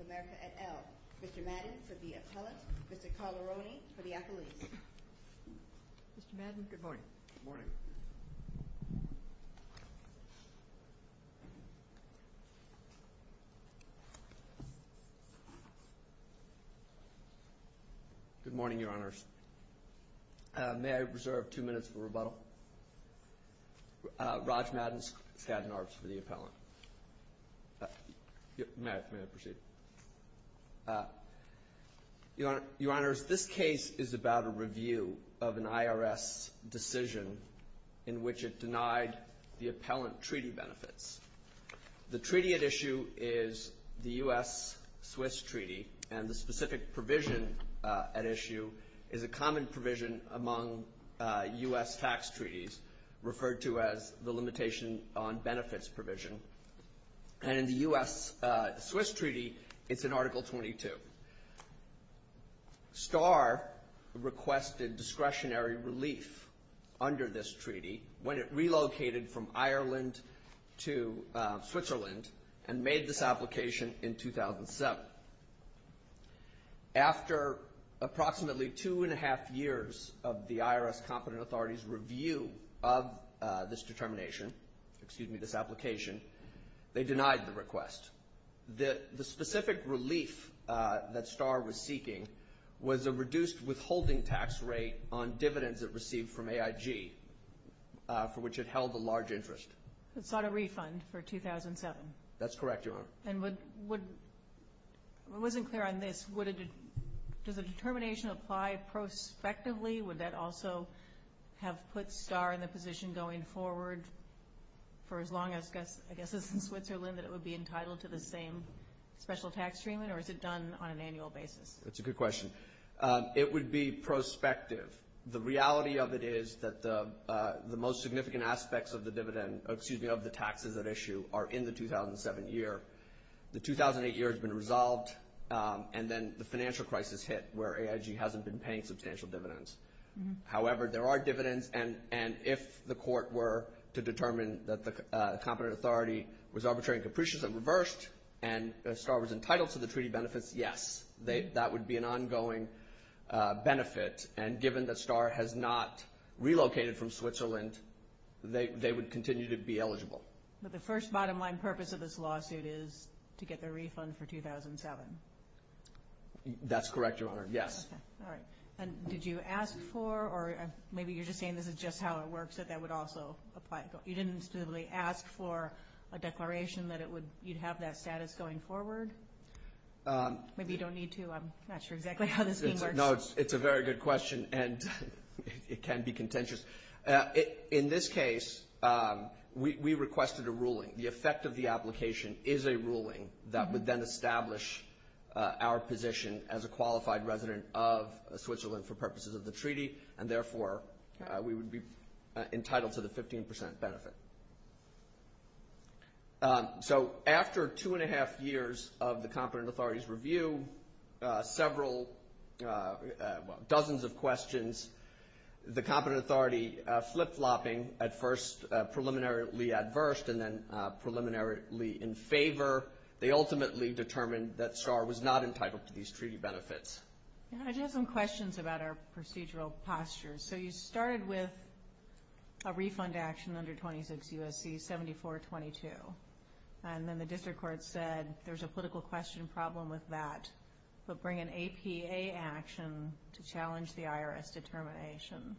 of America, et al. Mr. Madden, for the appellate. Mr. Caleroni, for the athletes. Mr. Madden, good morning. Good morning. Good morning, Your Honors. May I reserve two minutes for rebuttal? Raj Madden, Skadden Arps, for the appellant. May I proceed? Your Honors, this case is about a review of an appellant treaty benefits. The treaty at issue is the U.S.-Swiss treaty, and the specific provision at issue is a common provision among U.S. tax treaties, referred to as the Limitation on Benefits provision. And in the U.S.-Swiss treaty, it's in Article 22. Starr requested discretionary relief under this treaty when it relocated from Ireland to Switzerland and made this application in 2007. After approximately two and a half years of the IRS competent authorities' review of this determination, excuse me, this application, they denied the received from AIG, for which it held a large interest. It sought a refund for 2007. That's correct, Your Honor. And would, would, I wasn't clear on this, would it, does the determination apply prospectively? Would that also have put Starr in the position going forward for as long as, I guess, as in Switzerland that it would be entitled to the same special tax treatment, or is it done on an annual basis? That's a good question. It would be prospective. The reality of it is that the, the most significant aspects of the dividend, excuse me, of the taxes at issue are in the 2007 year. The 2008 year has been resolved, and then the financial crisis hit where AIG hasn't been paying substantial dividends. However, there are dividends, and if the court were to determine that the competent authority was arbitrary and capricious and reversed, and Starr was entitled to the treaty benefits, yes, they, that would be an ongoing benefit. And given that Starr has not relocated from Switzerland, they, they would continue to be eligible. But the first bottom line purpose of this lawsuit is to get the refund for 2007? That's correct, Your Honor, yes. All right. And did you ask for, or maybe you're just saying this is just how it works, that that would also apply? You didn't specifically ask for a declaration that it would, you'd have that status going forward? Maybe you don't need to, I'm not sure exactly how this thing works. No, it's, it's a very good question, and it can be contentious. In this case, we, we requested a ruling. The effect of the application is a ruling that would then establish our position as a qualified resident of Switzerland for purposes of the treaty, and therefore we would be entitled to the 15 percent benefit. So after two and a half years of the competent authority's review, several, dozens of questions, the competent authority flip-flopping at first preliminarily adverse and then preliminarily in favor, they ultimately determined that Starr was not entitled to these treaty benefits. I just have some questions about our procedural posture. So you started with a refund action under 26 U.S.C. 7422, and then the district court said there's a political question problem with that, but bring an APA action to challenge the IRS determination.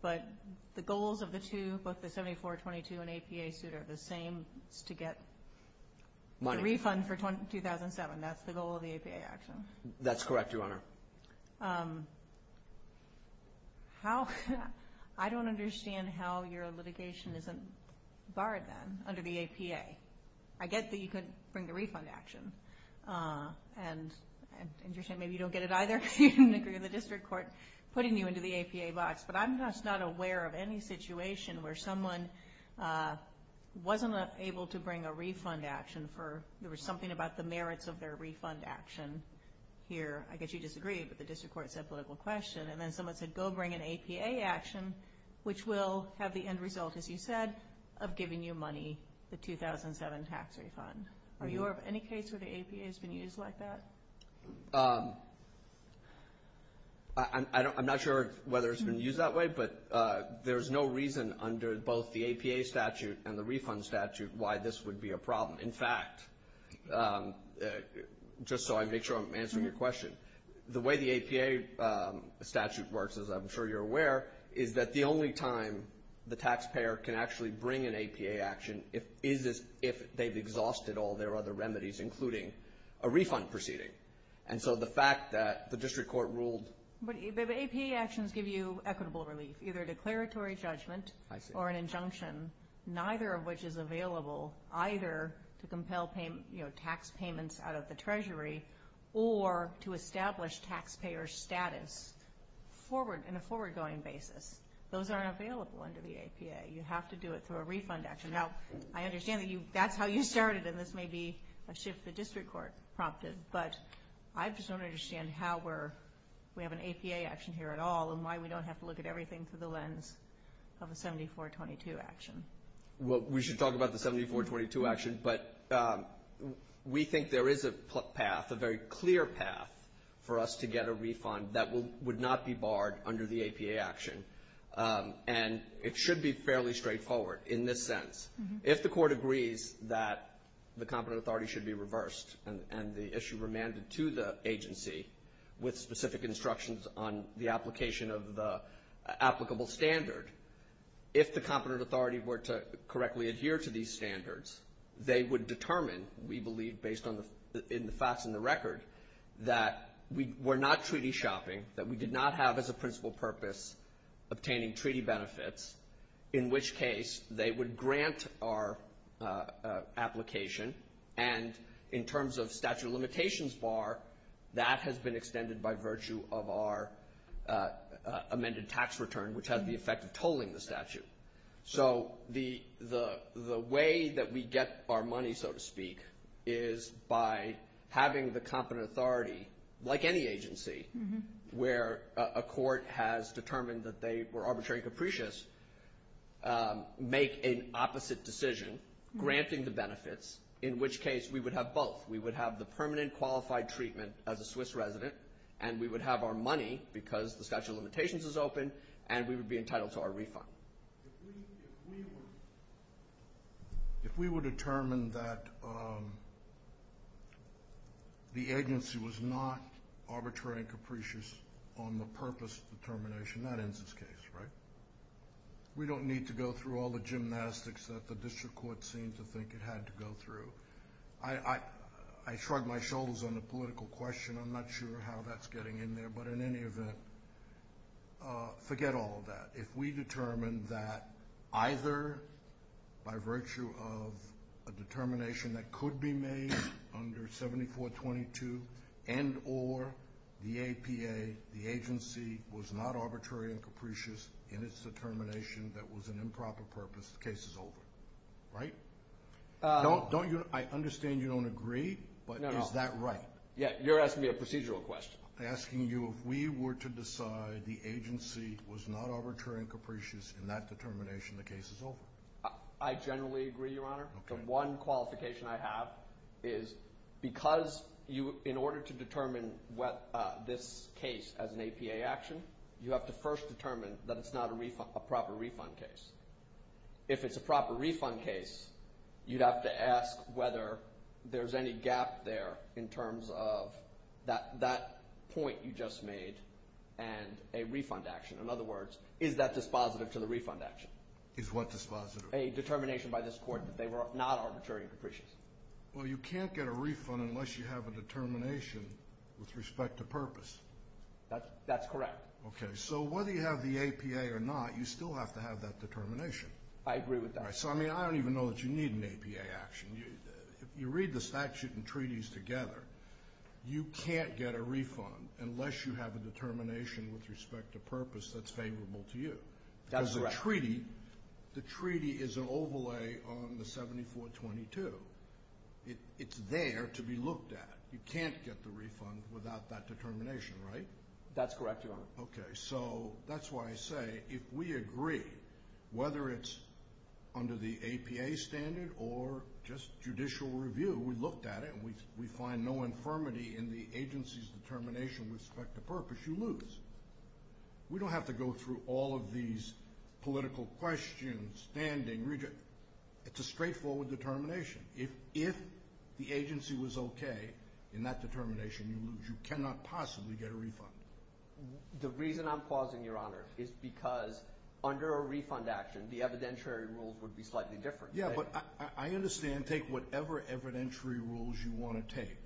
But the goals of the two, both the 7422 and APA suit are the same, it's to get a refund for 2007, that's the goal of the APA action. That's correct, Your Honor. How, I don't understand how your litigation isn't barred then under the APA. I get that you could bring a refund action, and you're saying maybe you don't get it either because you didn't agree with the district court putting you into the APA box, but I'm just not aware of any situation where someone wasn't able to bring a refund action for, there was something about the APA here, I guess you disagreed, but the district court said political question, and then someone said go bring an APA action, which will have the end result, as you said, of giving you money, the 2007 tax refund. Are you aware of any case where the APA has been used like that? I'm not sure whether it's been used that way, but there's no reason under both the APA statute and the refund statute why this would be a problem. In fact, just so I make sure I'm answering your question, the way the APA statute works, as I'm sure you're aware, is that the only time the taxpayer can actually bring an APA action is if they've exhausted all their other remedies, including a refund proceeding. And so the fact that the district court ruled... But APA actions give you equitable relief, either declaratory judgment or an injunction, neither of which is available either to compel tax payments out of the treasury or to establish taxpayer status in a forward-going basis. Those aren't available under the APA. You have to do it through a refund action. Now, I understand that that's how you started, and this may be a shift the district court prompted, but I just don't understand how we're... We have an APA action here at all, and why we don't have to look at everything through the lens of a 7422 action. Well, we should talk about the 7422 action, but we think there is a path, a very clear path, for us to get a refund that would not be barred under the APA action. And it should be fairly straightforward in this sense. If the court agrees that the competent authority were to correctly adhere to these standards, they would determine, we believe, based on the facts in the record, that we're not treaty shopping, that we did not have as a principal purpose obtaining treaty benefits, in which case they would grant our application. And in terms of statute of limitations bar, that has been extended by virtue of our amended tax return, which has the effect of tolling the statute. So the way that we get our money, so to speak, is by having the competent authority, like any agency, where a court has determined that they were arbitrary capricious, make an opposite decision, granting the benefits, in which case we would have both. We would have the permanent qualified treatment as a Swiss resident, and we would be entitled to our refund. If we were determined that the agency was not arbitrary and capricious on the purpose determination, that ends this case, right? We don't need to go through all the gymnastics that the district court seemed to think it had to go through. I shrug my shoulders on the political question. I'm not sure how that's getting in there, but in any event, forget all of that. If we determined that either by virtue of a determination that could be made under 7422 and or the APA, the agency was not arbitrary and capricious in its determination that was an improper purpose, the case is over, right? I understand you don't agree, but is that right? Yeah, you're asking me a procedural question. I'm asking you if we were to decide the agency was not arbitrary and capricious in that determination, the case is over. I generally agree, Your Honor. The one qualification I have is because in order to determine this case as an APA action, you have to first have that point you just made and a refund action. In other words, is that dispositive to the refund action? Is what dispositive? A determination by this court that they were not arbitrary and capricious. Well, you can't get a refund unless you have a determination with respect to purpose. That's correct. So whether you have the APA or not, you still have to have that determination. I agree with that. So, I mean, I don't even know that you need an APA action. If you read the statute and treaties together, you can't get a refund unless you have a determination with respect to purpose that's favorable to you. That's correct. Because the treaty is an overlay on the 7422. It's there to be looked at. You can't get the refund without that determination, right? That's correct, Your Honor. Okay, so that's why I say if we agree, whether it's under the APA standard or just judicial review, we looked at it and we find no infirmity in the agency's determination with respect to purpose, you lose. We don't have to go through all of these political questions, standing. It's a straightforward determination. If the agency was okay in that determination, you lose. You cannot possibly get a refund. The reason I'm pausing, Your Honor, is because under a refund action, the evidentiary rules would be slightly different. Yeah, but I understand. Take whatever evidentiary rules you want to take,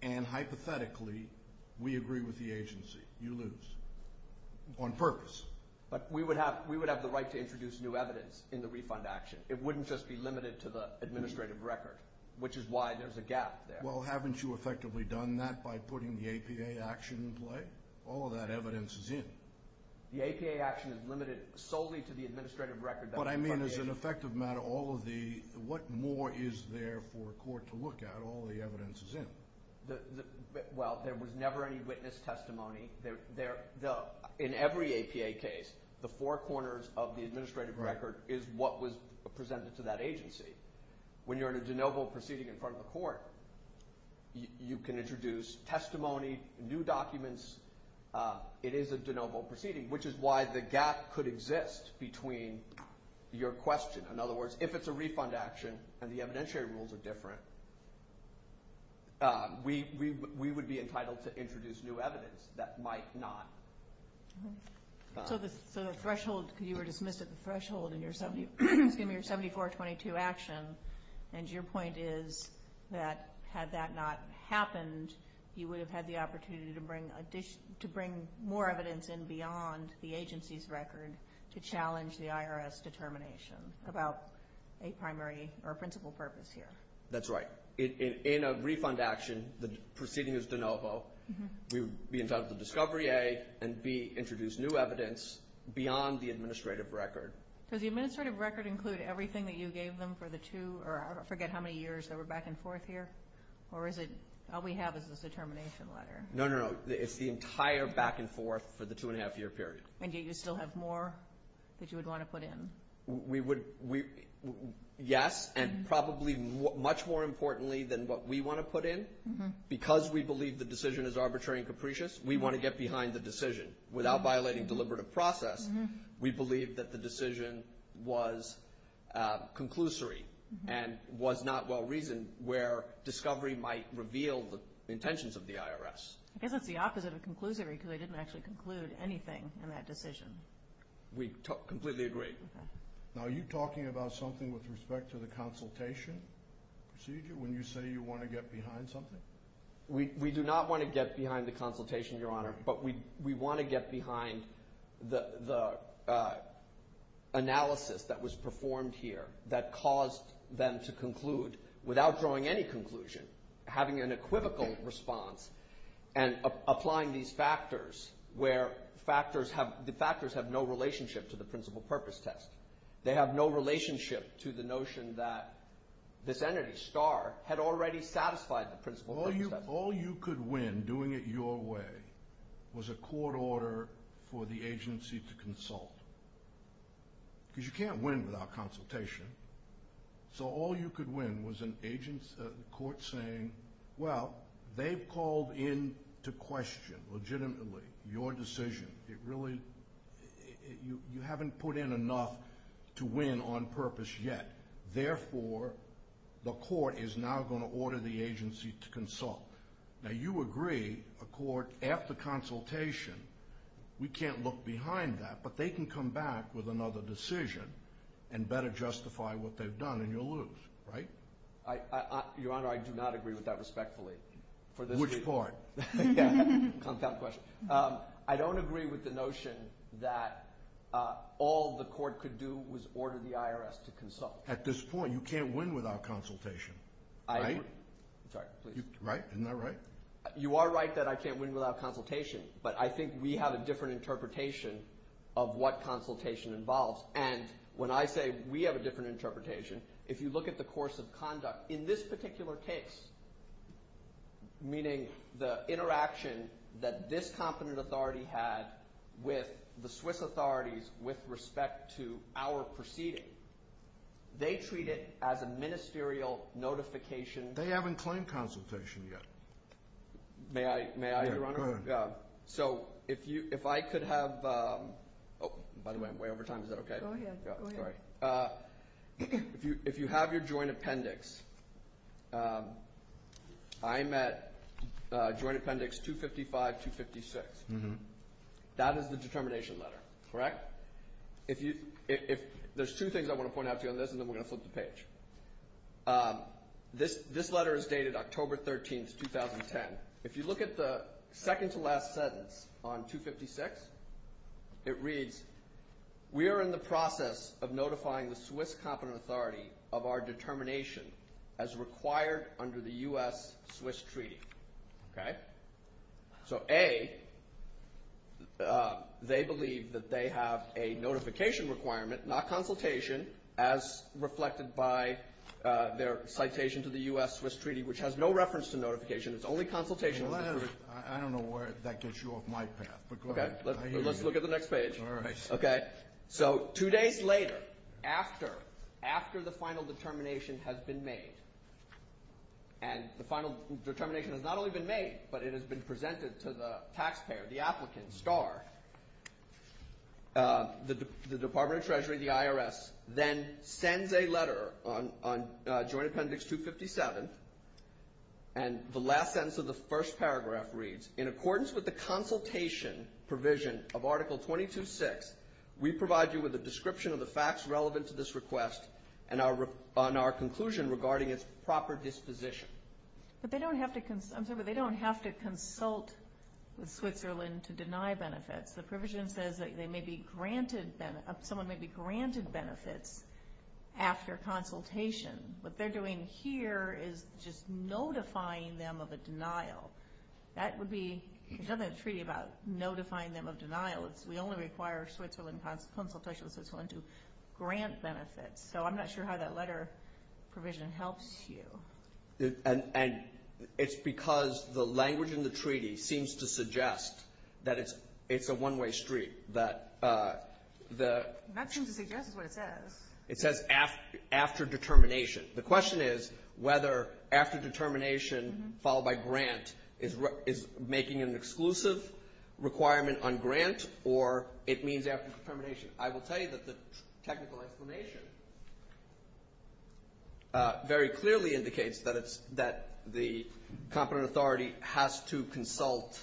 and hypothetically, we agree with the agency. You lose on purpose. But we would have the right to introduce new evidence in the refund action. It wouldn't just be limited to the administrative record, which is why there's a gap there. Well, haven't you effectively done that by putting the APA action in play? All of that evidence is in. The APA action is limited solely to the administrative record. But I mean, as an effective matter, what more is there for a court to look at? All the evidence is in. Well, there was never any witness testimony. In every APA case, the four corners of the administrative record is what was presented to that agency. When you're in a de novo proceeding in front of a court, you can introduce testimony, new documents. It is a de novo proceeding, which is why the gap could exist between your question. In other words, if it's a refund action and the evidentiary rules are different, we would be entitled to introduce new evidence that might not. So the threshold, you were dismissed at the threshold in your 7422 action, and your point is that had that not happened, you would have had the opportunity to bring more evidence in beyond the agency's record to challenge the IRS determination about a primary or principal purpose here. That's right. In a refund action, the proceeding is de novo. We would be entitled to discovery A, and B, introduce new evidence beyond the administrative record. Does the administrative record include everything that you gave them for the two or I forget how many years that were back and forth here, or is it all we have is this determination letter? No, no, no. It's the entire back and forth for the two-and-a-half-year period. And yet you still have more that you would want to put in? We would, yes, and probably much more importantly than what we want to put in, because we believe the decision is arbitrary and capricious, we want to get behind the decision. Without violating deliberative process, we believe that the decision was conclusory and was not well-reasoned where discovery might reveal the intentions of the IRS. I guess that's the opposite of conclusory because they didn't actually conclude anything in that decision. We completely agree. Now, are you talking about something with respect to the consultation procedure when you say you want to get behind something? We do not want to get behind the consultation, Your Honor, but we want to get behind the analysis that was performed here that caused them to conclude without drawing any conclusion, having an equivocal response, and applying these factors where the factors have no relationship to the principal purpose test. They have no relationship to the notion that this entity, STAR, had already satisfied the principal purpose test. All you could win doing it your way was a court order for the agency to consult, because you can't win without consultation. So all you could win was a court saying, well, they've called in to question, legitimately, your decision. You haven't put in enough to win on purpose yet. Therefore, the court is now going to order the agency to consult. Now, you agree, a court, after consultation, we can't look behind that, but they can come back with another decision and better justify what they've done, and you'll lose, right? Your Honor, I do not agree with that respectfully. Which part? I don't agree with the notion that all the court could do was order the IRS to consult. At this point, you can't win without consultation, right? I agree. Right? Isn't that right? You are right that I can't win without consultation, but I think we have a different interpretation of what consultation involves. And when I say we have a different interpretation, if you look at the course of conduct in this particular case, meaning the interaction that this competent authority had with the Swiss authorities with respect to our proceeding, they treat it as a ministerial notification. They haven't claimed consultation yet. May I, Your Honor? Go ahead. So if I could have – oh, by the way, I'm way over time. Is that okay? Go ahead. If you have your joint appendix, I'm at Joint Appendix 255-256. That is the determination letter, correct? There's two things I want to point out to you on this, and then we're going to flip the page. This letter is dated October 13, 2010. If you look at the second-to-last sentence on 256, it reads, we are in the process of notifying the Swiss competent authority of our determination as required under the U.S.-Swiss treaty. Okay? So A, they believe that they have a notification requirement, not consultation, as reflected by their citation to the U.S.-Swiss treaty, which has no reference to notification. It's only consultation. I don't know where that gets you off my path, but go ahead. Let's look at the next page. All right. Okay? So two days later, after the final determination has been made, and the final determination has not only been made, but it has been presented to the taxpayer, the applicant, SCAR, the Department of Treasury, the IRS, then sends a letter on Joint Appendix 257, and the last sentence of the first paragraph reads, in accordance with the consultation provision of Article 226, we provide you with a description of the facts relevant to this request and our conclusion regarding its proper disposition. But they don't have to consult with Switzerland to deny benefits. The provision says that someone may be granted benefits after consultation. What they're doing here is just notifying them of a denial. That would be, there's nothing in the treaty about notifying them of denial. We only require Switzerland consultation with Switzerland to grant benefits. So I'm not sure how that letter provision helps you. And it's because the language in the treaty seems to suggest that it's a one-way street. That seems to suggest is what it says. It says after determination. The question is whether after determination, followed by grant, is making an exclusive requirement on grant, or it means after determination. I will tell you that the technical explanation very clearly indicates that the competent authority has to consult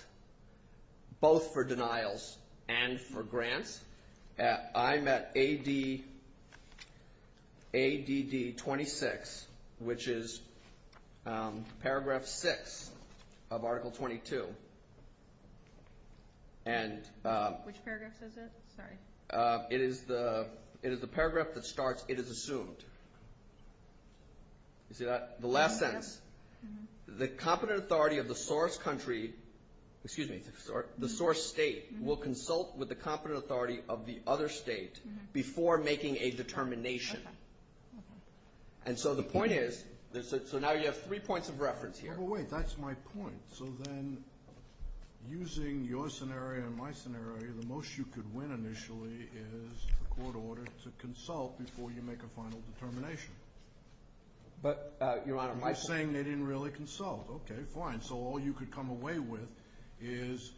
both for denials and for grants. I'm at ADD 26, which is paragraph 6 of Article 22. And it is the paragraph that starts, it is assumed. You see that? The last sentence. The competent authority of the source country, excuse me, the source state, will consult with the competent authority of the other state before making a determination. And so the point is, so now you have three points of reference here. Wait, that's my point. So then using your scenario and my scenario, the most you could win initially is a court order to consult before you make a final determination. But, Your Honor, my point. You're saying they didn't really consult. Okay, fine. So all you could come away with is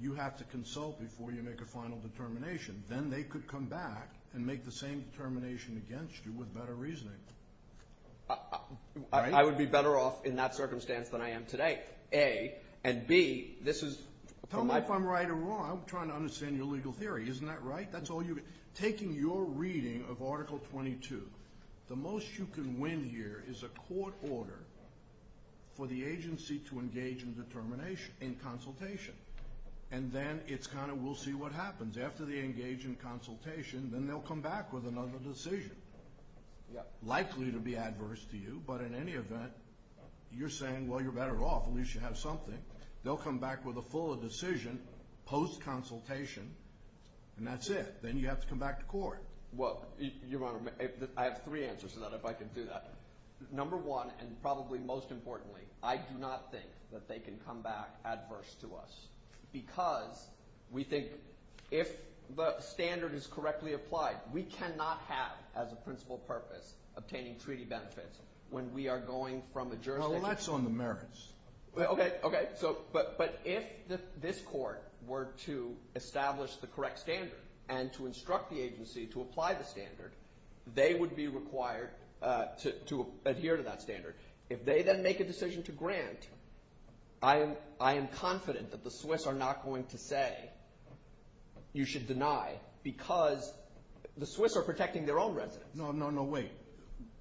you have to consult before you make a final determination. Then they could come back and make the same determination against you with better reasoning. I would be better off in that circumstance than I am today, A. And, B, this is... Tell me if I'm right or wrong. I'm trying to understand your legal theory. Isn't that right? Taking your reading of Article 22, the most you can win here is a court order for the agency to engage in consultation. And then we'll see what happens. After they engage in consultation, then they'll come back with another decision. Likely to be adverse to you, but in any event, you're saying, well, you're better off. At least you have something. They'll come back with a fuller decision post-consultation, and that's it. Then you have to come back to court. Well, Your Honor, I have three answers to that, if I can do that. Number one, and probably most importantly, I do not think that they can come back adverse to us because we think if the standard is correctly applied, we cannot have as a principal purpose obtaining treaty benefits when we are going from a jurisdiction... Well, that's on the merits. Okay. But if this court were to establish the correct standard and to instruct the agency to apply the standard, they would be required to adhere to that standard. If they then make a decision to grant, I am confident that the Swiss are not going to say you should deny because the Swiss are protecting their own residents. No, no, no. Wait.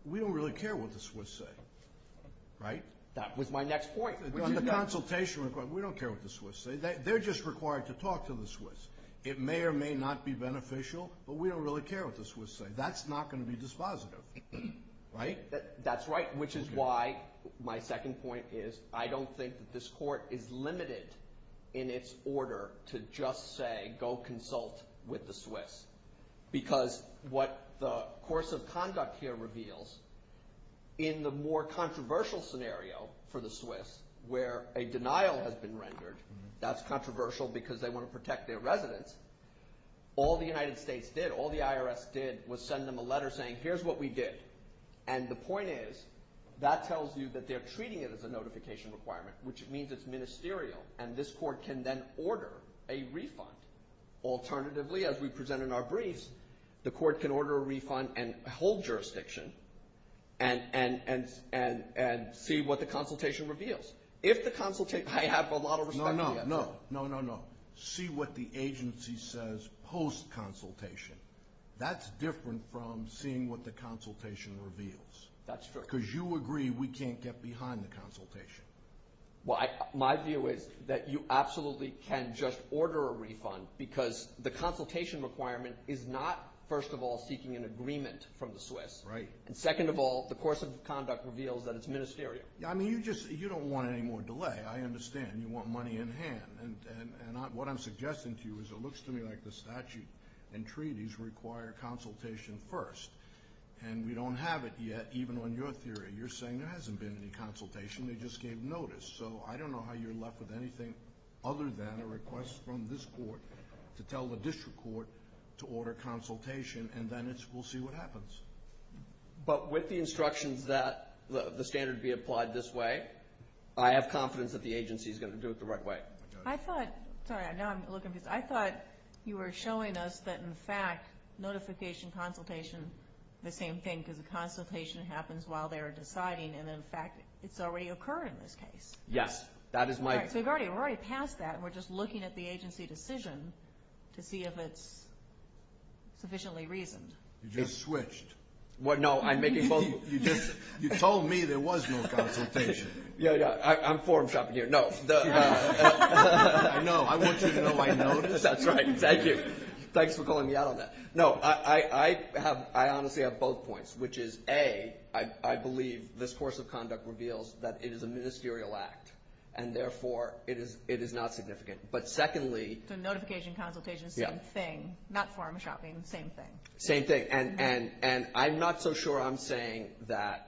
We don't really care what the Swiss say, right? That was my next point. On the consultation request, we don't care what the Swiss say. They're just required to talk to the Swiss. It may or may not be beneficial, but we don't really care what the Swiss say. That's not going to be dispositive, right? That's right, which is why my second point is I don't think that this court is limited in its order to just say go consult with the Swiss because what the course of conduct here reveals, in the more controversial scenario for the Swiss where a denial has been rendered, that's controversial because they want to protect their residents, all the United States did, all the IRS did was send them a letter saying here's what we did. And the point is that tells you that they're treating it as a notification requirement, which means it's ministerial, and this court can then order a refund. Alternatively, as we present in our briefs, the court can order a refund and hold jurisdiction and see what the consultation reveals. I have a lot of respect for that. No, no, no. See what the agency says post-consultation. That's different from seeing what the consultation reveals. That's true. Because you agree we can't get behind the consultation. My view is that you absolutely can just order a refund because the consultation requirement is not, first of all, seeking an agreement from the Swiss. Right. And second of all, the course of conduct reveals that it's ministerial. I mean, you just don't want any more delay. I understand. You want money in hand. And what I'm suggesting to you is it looks to me like the statute and treaties require consultation first. And we don't have it yet, even on your theory. You're saying there hasn't been any consultation. They just gave notice. So I don't know how you're left with anything other than a request from this court to tell the district court to order consultation, and then we'll see what happens. But with the instructions that the standard be applied this way, I have confidence that the agency is going to do it the right way. Sorry, now I'm a little confused. I thought you were showing us that, in fact, notification, consultation, the same thing, because the consultation happens while they're deciding, and, in fact, it's already occurred in this case. Yes. That is my view. All right, so we're already past that, and we're just looking at the agency decision to see if it's sufficiently reasoned. You just switched. No, I'm making both. You told me there was no consultation. I'm forum shopping here. No. I know. I want you to know I noticed. That's right. Thank you. Thanks for calling me out on that. No, I honestly have both points, which is, A, I believe this course of conduct reveals that it is a ministerial act, and, therefore, it is not significant, but, secondly. So notification, consultation, same thing, not forum shopping, same thing. Same thing, and I'm not so sure I'm saying that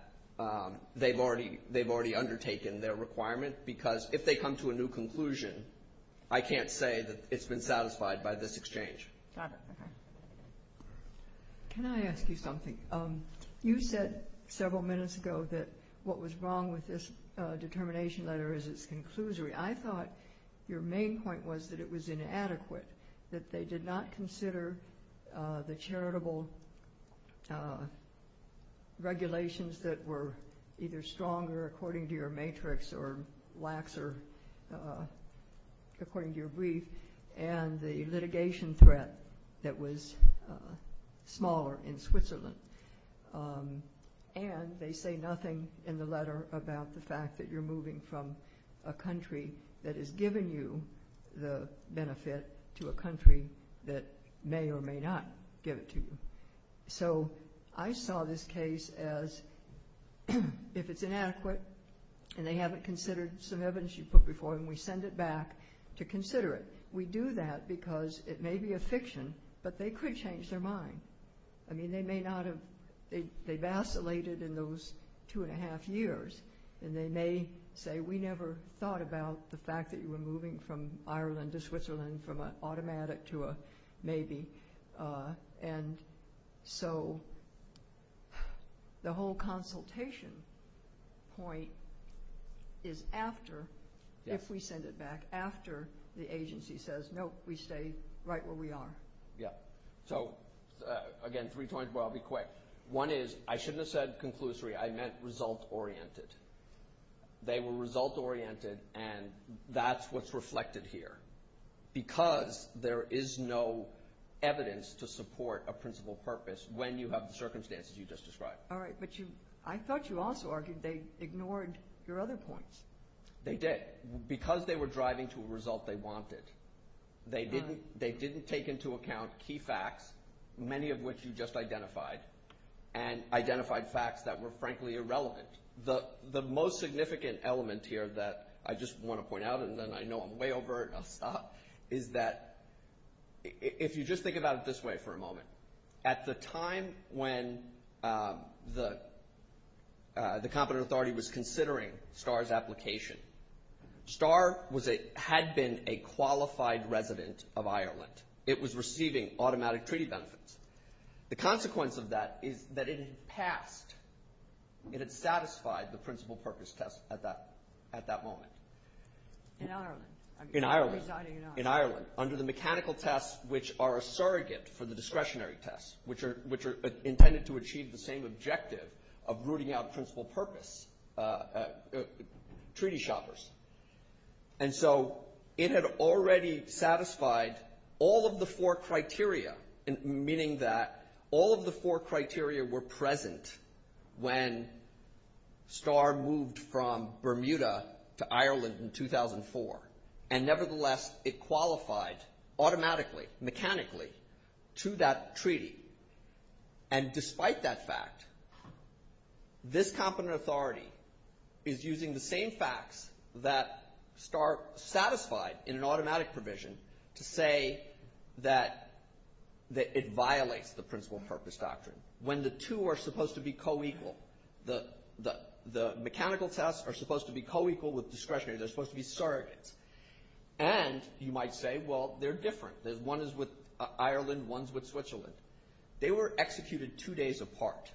they've already undertaken their requirement, because if they come to a new conclusion, I can't say that it's been satisfied by this exchange. Got it. Okay. Can I ask you something? You said several minutes ago that what was wrong with this determination letter is its conclusory. I thought your main point was that it was inadequate, that they did not consider the charitable regulations that were either stronger, according to your matrix, or laxer, according to your brief, and the litigation threat that was smaller in Switzerland, and they say nothing in the letter about the fact that you're moving from a country that has given you the benefit to a country that may or may not give it to you. So I saw this case as, if it's inadequate, and they haven't considered some evidence you put before them, we send it back to consider it. We do that because it may be a fiction, but they could change their mind. I mean, they may not have, they vacillated in those two and a half years, and they may say, we never thought about the fact that you were moving from Ireland to Switzerland, from an automatic to a maybe, and so the whole consultation point is after, if we send it back, after the agency says, nope, we stay right where we are. Yeah. So, again, three points, but I'll be quick. One is, I shouldn't have said conclusory. I meant result-oriented. They were result-oriented, and that's what's reflected here, because there is no evidence to support a principal purpose when you have the circumstances you just described. All right, but I thought you also argued they ignored your other points. They did, because they were driving to a result they wanted. They didn't take into account key facts, many of which you just identified, and identified facts that were, frankly, irrelevant. The most significant element here that I just want to point out, and then I know I'm way overt and I'll stop, is that if you just think about it this way for a moment, at the time when the competent authority was considering STAR's application, STAR had been a qualified resident of Ireland. It was receiving automatic treaty benefits. The consequence of that is that it had passed, it had satisfied the principal purpose test at that moment. In Ireland. In Ireland. Residing in Ireland. In Ireland, under the mechanical tests, which are a surrogate for the discretionary tests, which are intended to achieve the same objective of rooting out principal purpose treaty shoppers. And so it had already satisfied all of the four criteria, meaning that all of the four criteria were present when STAR moved from Bermuda to Ireland in 2004. And nevertheless, it qualified automatically, mechanically, to that treaty. And despite that fact, this competent authority is using the same facts that STAR satisfied in an automatic provision to say that it violates the principal purpose doctrine. When the two are supposed to be co-equal. The mechanical tests are supposed to be co-equal with discretionary. They're supposed to be surrogates. And you might say, well, they're different. One is with Ireland, one's with Switzerland. They were executed two days apart.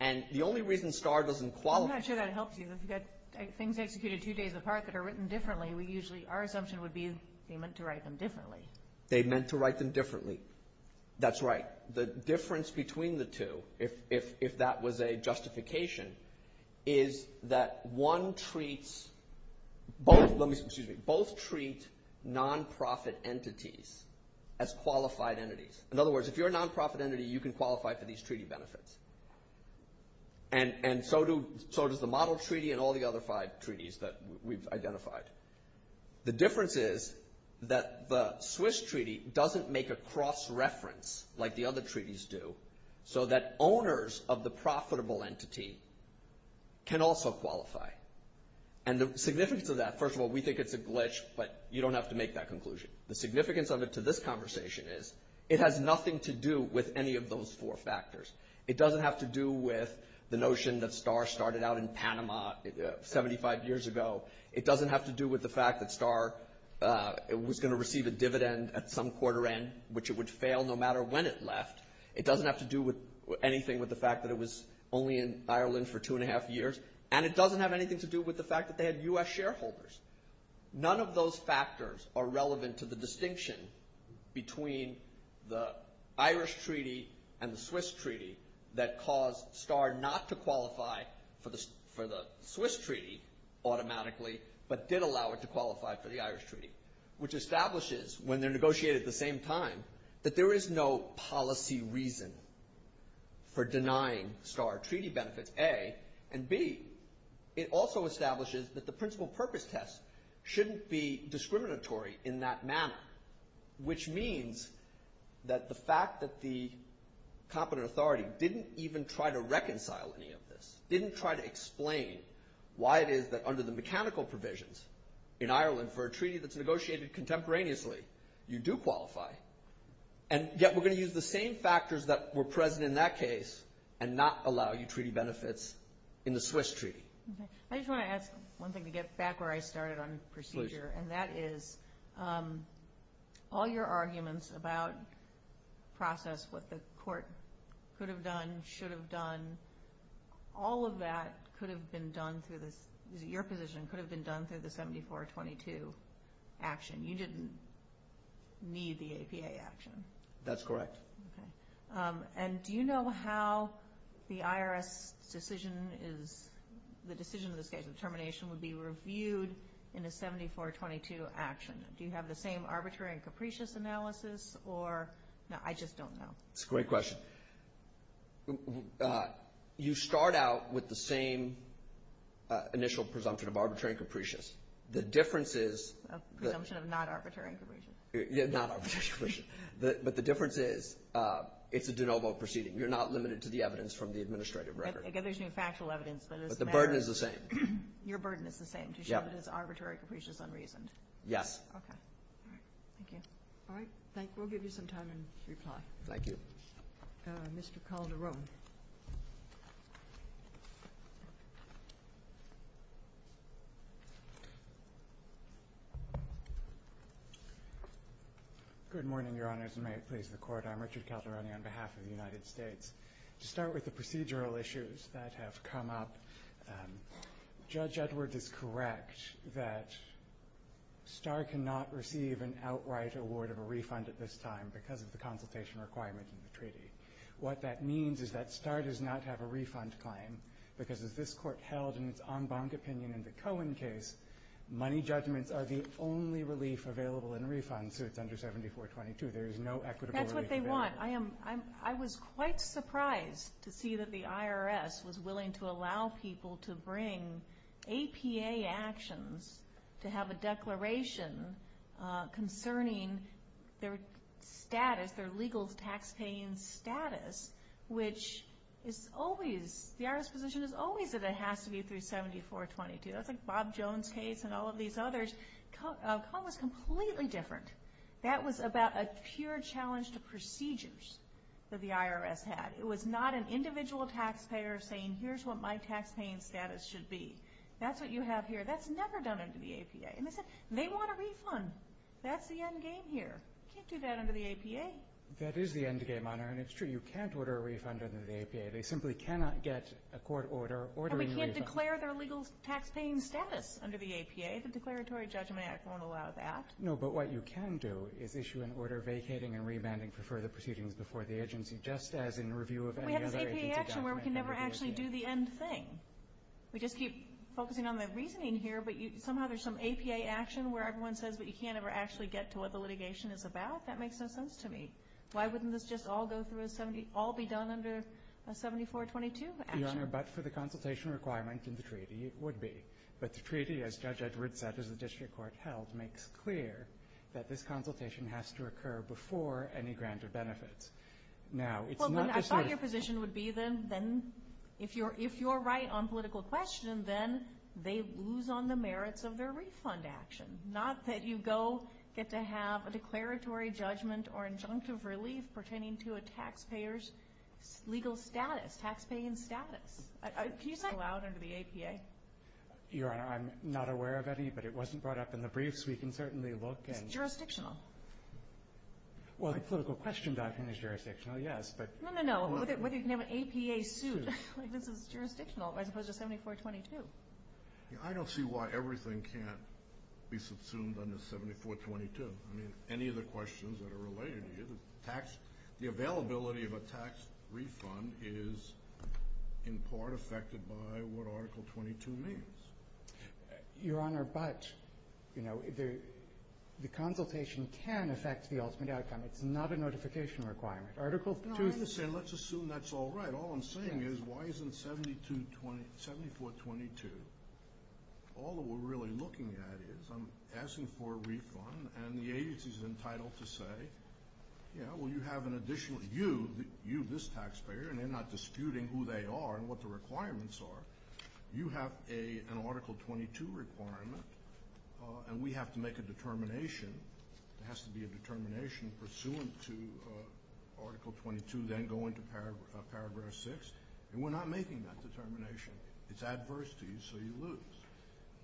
And the only reason STAR doesn't qualify. I'm not sure that helps you. If you've got things executed two days apart that are written differently, our assumption would be they meant to write them differently. They meant to write them differently. That's right. The difference between the two, if that was a justification, is that one treats both non-profit entities as qualified entities. In other words, if you're a non-profit entity, you can qualify for these treaty benefits. And so does the model treaty and all the other five treaties that we've identified. The difference is that the Swiss treaty doesn't make a cross-reference like the other treaties do, so that owners of the profitable entity can also qualify. And the significance of that, first of all, we think it's a glitch, but you don't have to make that conclusion. The significance of it to this conversation is it has nothing to do with any of those four factors. It doesn't have to do with the notion that STAR started out in Panama 75 years ago. It doesn't have to do with the fact that STAR was going to receive a dividend at some quarter end, which it would fail no matter when it left. It doesn't have to do with anything with the fact that it was only in Ireland for two and a half years. And it doesn't have anything to do with the fact that they had U.S. shareholders. None of those factors are relevant to the distinction between the Irish treaty and the Swiss treaty that caused STAR not to qualify for the Swiss treaty automatically, but did allow it to qualify for the Irish treaty, which establishes, when they're negotiated at the same time, that there is no policy reason for denying STAR treaty benefits, A. And, B, it also establishes that the principal purpose test shouldn't be discriminatory in that manner, which means that the fact that the competent authority didn't even try to reconcile any of this, didn't try to explain why it is that under the mechanical provisions in Ireland for a treaty that's negotiated contemporaneously, you do qualify. And yet we're going to use the same factors that were present in that case and not allow you treaty benefits in the Swiss treaty. I just want to ask one thing to get back where I started on procedure. Please. And that is, all your arguments about process, what the court could have done, should have done, all of that could have been done through the—your position could have been done through the 7422 action. You didn't need the APA action. That's correct. Okay. And do you know how the IRS decision is—the decision of this case, the termination, would be reviewed in a 7422 action? Do you have the same arbitrary and capricious analysis or—no, I just don't know. It's a great question. You start out with the same initial presumption of arbitrary and capricious. The difference is— Presumption of not arbitrary and capricious. Yeah, not arbitrary and capricious. But the difference is it's a de novo proceeding. You're not limited to the evidence from the administrative record. Again, there's no factual evidence. But the burden is the same. Your burden is the same, to show that it's arbitrary, capricious, unreasoned. Yes. Okay. Thank you. All right. Thank you. We'll give you some time in reply. Thank you. Mr. Calderon. Good morning, Your Honors, and may it please the Court. I'm Richard Calderon on behalf of the United States. To start with the procedural issues that have come up, Judge Edwards is correct that Starr cannot receive an outright award of a refund at this time because of the consultation requirement in the treaty. What that means is that Starr does not have a refund claim because, as this Court held in its en banc opinion in the Cohen case, money judgments are the only relief available in refund suits under 7422. There is no equitable relief available. That's what they want. I was quite surprised to see that the IRS was willing to allow people to bring APA actions to have a declaration concerning their status, their legal taxpaying status, which is always, the IRS position is always that it has to be through 7422. That's like Bob Jones' case and all of these others. Cohen was completely different. That was about a pure challenge to procedures that the IRS had. It was not an individual taxpayer saying, here's what my taxpaying status should be. That's what you have here. That's never done under the APA. And they said they want a refund. That's the end game here. You can't do that under the APA. That is the end game, Honor, and it's true. You can't order a refund under the APA. They simply cannot get a court order ordering a refund. And we can't declare their legal taxpaying status under the APA. The Declaratory Judgment Act won't allow that. No, but what you can do is issue an order vacating and remanding for further proceedings before the agency, just as in review of any other agency document. But we have this APA action where we can never actually do the end thing. We just keep focusing on the reasoning here, but somehow there's some APA action where everyone says that you can't ever actually get to what the litigation is about. That makes no sense to me. Why wouldn't this just all be done under a 7422 action? Your Honor, but for the consultation requirement in the treaty, it would be. But the treaty, as Judge Edwards said, as the district court held, Well, then I thought your position would be then if you're right on political question, then they lose on the merits of their refund action, not that you go get to have a declaratory judgment or injunctive relief pertaining to a taxpayer's legal status, taxpaying status. Can you say that aloud under the APA? Your Honor, I'm not aware of any, but it wasn't brought up in the briefs. We can certainly look. It's jurisdictional. Well, the political question document is jurisdictional, yes, but No, no, no. Whether you can have an APA suit, like this is jurisdictional as opposed to 7422. I don't see why everything can't be subsumed under 7422. I mean, any of the questions that are related here, the availability of a tax refund is in part affected by what Article 22 means. Your Honor, but the consultation can affect the ultimate outcome. It's not a notification requirement. Article 5 Let's assume that's all right. All I'm saying is why isn't 7422? All that we're really looking at is I'm asking for a refund, and the agency is entitled to say, Yeah, well, you have an additional, you, this taxpayer, and they're not disputing who they are and what the requirements are. You have an Article 22 requirement, and we have to make a determination. There has to be a determination pursuant to Article 22, then go into Paragraph 6. And we're not making that determination. It's adverse to you, so you lose.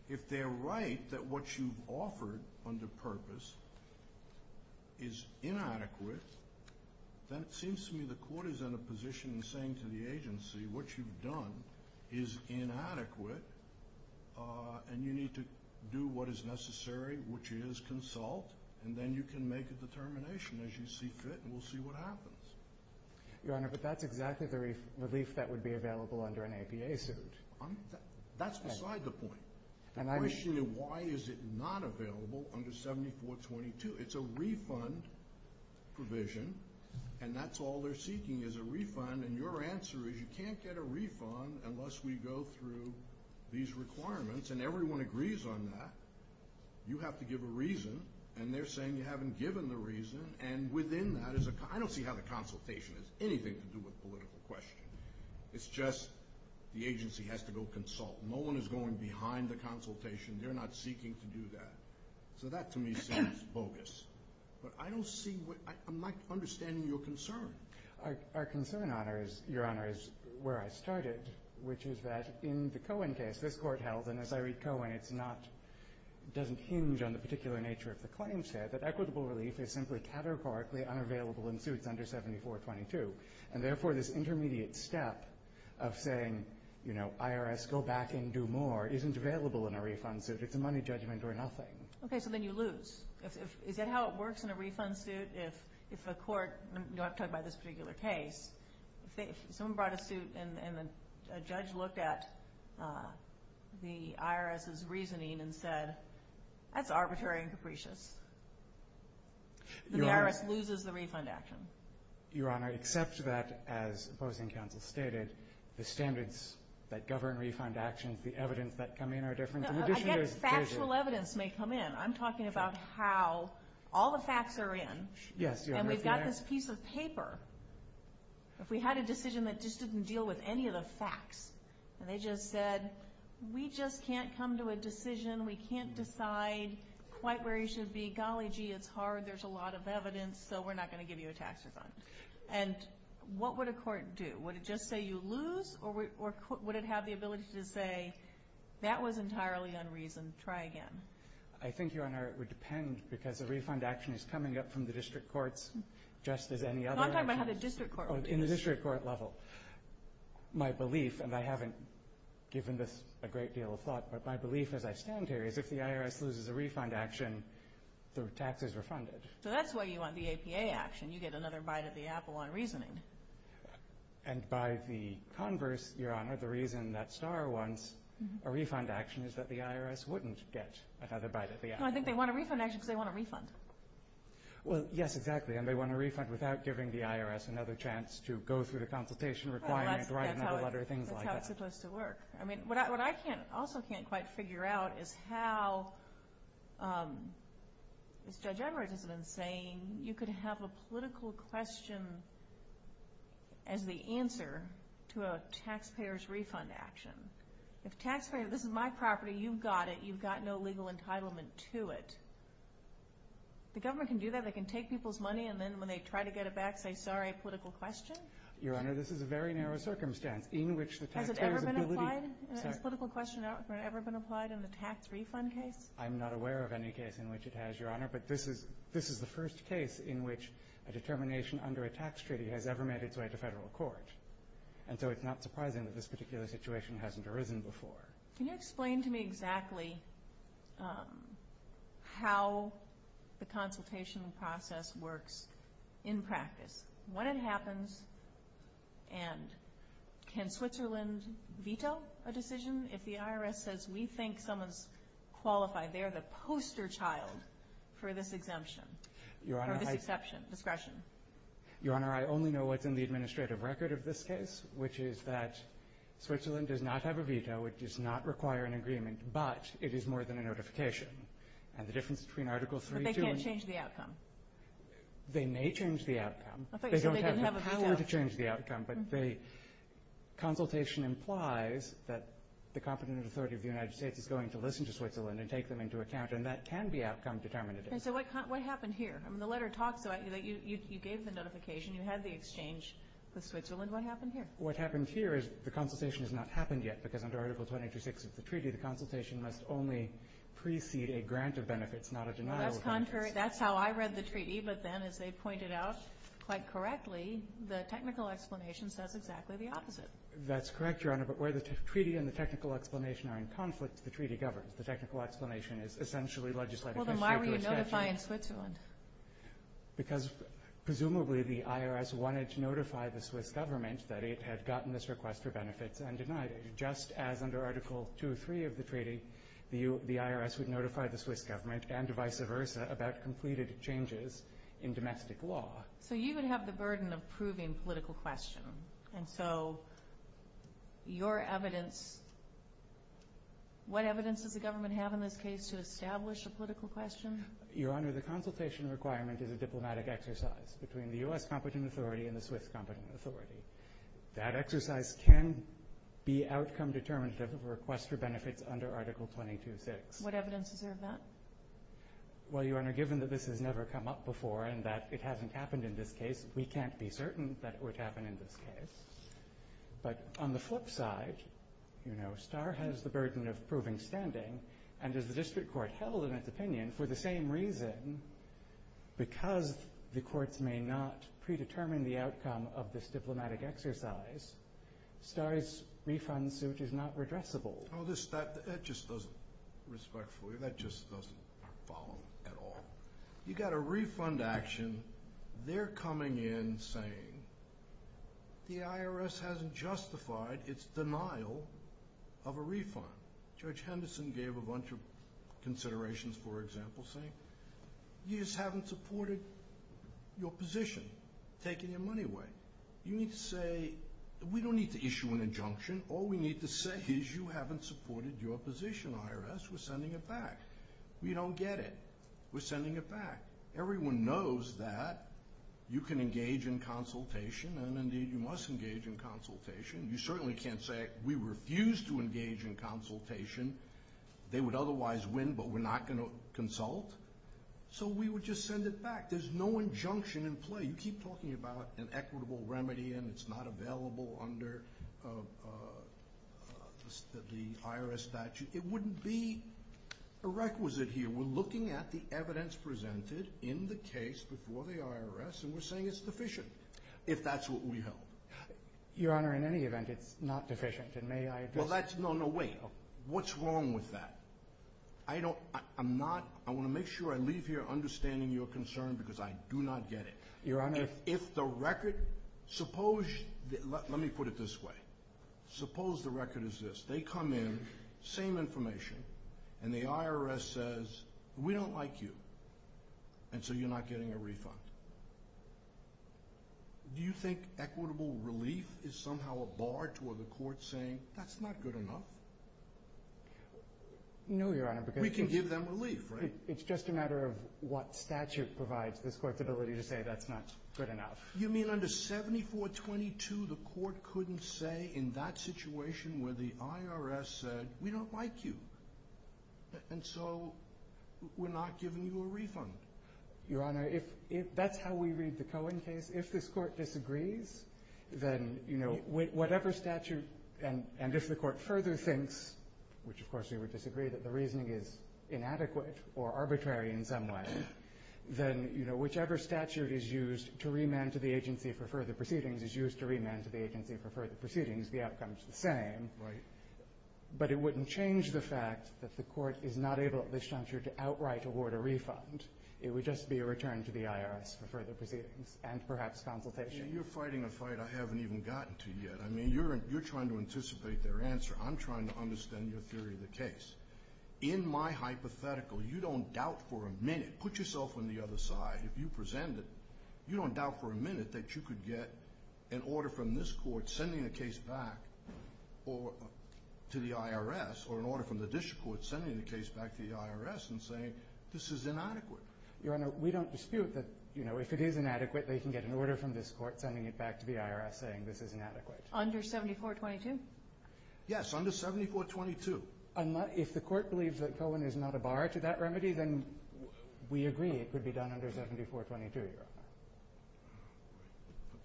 If they're right that what you've offered under purpose is inadequate, then it seems to me the court is in a position in saying to the agency, What you've done is inadequate, and you need to do what is necessary, which is consult, and then you can make a determination as you see fit, and we'll see what happens. Your Honor, but that's exactly the relief that would be available under an APA suit. That's beside the point. The question is why is it not available under 7422? It's a refund provision, and that's all they're seeking is a refund, and your answer is you can't get a refund unless we go through these requirements, and everyone agrees on that. You have to give a reason, and they're saying you haven't given the reason, and within that is a, I don't see how the consultation has anything to do with political question. It's just the agency has to go consult. No one is going behind the consultation. They're not seeking to do that. So that to me seems bogus. But I don't see what, I'm not understanding your concern. Our concern, Your Honor, is where I started, which is that in the Cohen case, this court held, and as I read Cohen, it's not, doesn't hinge on the particular nature of the claim set, that equitable relief is simply categorically unavailable in suits under 7422, and therefore this intermediate step of saying, you know, IRS, go back and do more, isn't available in a refund suit. It's a money judgment or nothing. Okay. So then you lose. Is that how it works in a refund suit? If a court, I'm talking about this particular case, if someone brought a suit and a judge looked at the IRS's reasoning and said, that's arbitrary and capricious, then the IRS loses the refund action. Your Honor, except that, as opposing counsel stated, the standards that govern refund action, the evidence that come in are different. I guess factual evidence may come in. I'm talking about how all the facts are in, and we've got this piece of paper. If we had a decision that just didn't deal with any of the facts, and they just said, we just can't come to a decision, we can't decide quite where you should be, golly gee, it's hard, there's a lot of evidence, so we're not going to give you a tax refund. And what would a court do? Would it just say you lose, or would it have the ability to say, that was entirely unreasoned, try again? I think, Your Honor, it would depend, because a refund action is coming up from the district courts just as any other. I'm talking about how the district court will do this. In the district court level. My belief, and I haven't given this a great deal of thought, but my belief as I stand here is if the IRS loses a refund action, the taxes are funded. So that's why you want the APA action. You get another bite at the apple on reasoning. And by the converse, Your Honor, the reason that Starr wants a refund action is that the IRS wouldn't get another bite at the apple. No, I think they want a refund action because they want a refund. Well, yes, exactly, and they want a refund without giving the IRS another chance to go through the consultation requirement, write another letter, things like that. That's how it's supposed to work. I mean, what I also can't quite figure out is how, as Judge Emmerich has been saying, you could have a political question as the answer to a taxpayer's refund action. If taxpayer, this is my property, you've got it, you've got no legal entitlement to it. The government can do that, they can take people's money, and then when they try to get it back, say, sorry, a political question? Your Honor, this is a very narrow circumstance in which the taxpayer's ability Has it ever been applied? Has political question ever been applied in the tax refund case? I'm not aware of any case in which it has, Your Honor, but this is the first case in which a determination under a tax treaty has ever made its way to federal court, and so it's not surprising that this particular situation hasn't arisen before. Can you explain to me exactly how the consultation process works in practice? When it happens, and can Switzerland veto a decision if the IRS says we think someone's qualified, they're the poster child for this exemption, for this exception, discretion? Your Honor, I only know what's in the administrative record of this case, which is that Switzerland does not have a veto. It does not require an agreement, but it is more than a notification, and the difference between Article 3 and 2 But they can't change the outcome. They may change the outcome. I thought you said they didn't have a veto. They don't have the power to change the outcome, but the consultation implies that the competent authority of the United States is going to listen to Switzerland and take them into account, and that can be outcome determinative. So what happened here? The letter talks about you gave the notification. You had the exchange with Switzerland. What happened here? What happened here is the consultation has not happened yet because under Article 2826 of the treaty, the consultation must only precede a grant of benefits, not a denial of benefits. That's contrary. That's how I read the treaty, but then, as they pointed out quite correctly, the technical explanation says exactly the opposite. That's correct, Your Honor, but where the treaty and the technical explanation are in conflict, the treaty governs. The technical explanation is essentially legislative history to a statute. Well, then why were you notifying Switzerland? Because presumably the IRS wanted to notify the Swiss government that it had gotten this request for benefits and denied it. Just as under Article 203 of the treaty, the IRS would notify the Swiss government and vice versa about completed changes in domestic law. So you would have the burden of proving political question, and so your evidence, what evidence does the government have in this case to establish a political question? Your Honor, the consultation requirement is a diplomatic exercise between the U.S. competent authority and the Swiss competent authority. That exercise can be outcome determinative of a request for benefits under Article 226. What evidence is there of that? Well, Your Honor, given that this has never come up before and that it hasn't happened in this case, we can't be certain that it would happen in this case. But on the flip side, you know, Starr has the burden of proving standing, and as the district court held in its opinion, for the same reason, because the courts may not predetermine the outcome of this diplomatic exercise, Starr's refund suit is not redressable. Well, that just doesn't, respectfully, that just doesn't follow at all. You've got a refund action. They're coming in saying the IRS hasn't justified its denial of a refund. Judge Henderson gave a bunch of considerations, for example, saying you just haven't supported your position, taking your money away. You need to say we don't need to issue an injunction. All we need to say is you haven't supported your position, IRS. We're sending it back. We don't get it. We're sending it back. Everyone knows that you can engage in consultation, and, indeed, you must engage in consultation. You certainly can't say we refuse to engage in consultation. They would otherwise win, but we're not going to consult. So we would just send it back. There's no injunction in play. You keep talking about an equitable remedy, and it's not available under the IRS statute. It wouldn't be a requisite here. We're looking at the evidence presented in the case before the IRS, and we're saying it's deficient, if that's what we hope. Your Honor, in any event, it's not deficient. And may I address that? No, no, wait. What's wrong with that? I'm not going to make sure I leave here understanding your concern because I do not get it. Your Honor. If the record ‑‑ let me put it this way. Suppose the record is this. They come in, same information, and the IRS says, we don't like you, and so you're not getting a refund. Do you think equitable relief is somehow a bar toward the court saying, that's not good enough? No, Your Honor. We can give them relief, right? It's just a matter of what statute provides this court the ability to say that's not good enough. You mean under 7422, the court couldn't say in that situation where the IRS said, we don't like you, and so we're not giving you a refund? Your Honor, that's how we read the Cohen case. If this court disagrees, then whatever statute, and if the court further thinks, which of course we would disagree that the reasoning is inadequate or arbitrary in some way, then whichever statute is used to remand to the agency for further proceedings is used to remand to the agency for further proceedings. The outcome is the same. Right. But it wouldn't change the fact that the court is not able at this time to outright award a refund. It would just be a return to the IRS for further proceedings and perhaps consultation. You're fighting a fight I haven't even gotten to yet. You're trying to anticipate their answer. I'm trying to understand your theory of the case. In my hypothetical, you don't doubt for a minute. Put yourself on the other side. If you present it, you don't doubt for a minute that you could get an order from this court sending the case back to the IRS or an order from the district court sending the case back to the IRS and saying this is inadequate. Your Honor, we don't dispute that if it is inadequate, they can get an order from this court sending it back to the IRS saying this is inadequate. Under 7422? Yes, under 7422. If the court believes that Cohen is not a bar to that remedy, then we agree it could be done under 7422, Your Honor.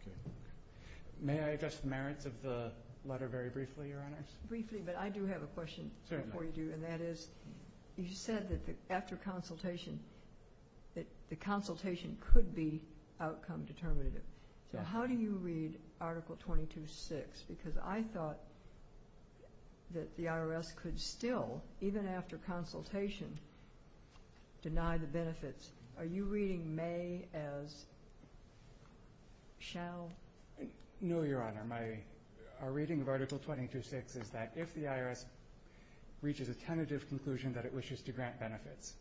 Okay. May I address the merits of the letter very briefly, Your Honors? Briefly, but I do have a question before you do, and that is you said that after consultation, that the consultation could be outcome determinative. So how do you read Article 22.6? Because I thought that the IRS could still, even after consultation, deny the benefits. Are you reading may as shall? No, Your Honor. Our reading of Article 22.6 is that if the IRS reaches a tentative conclusion that it wishes to grant benefits,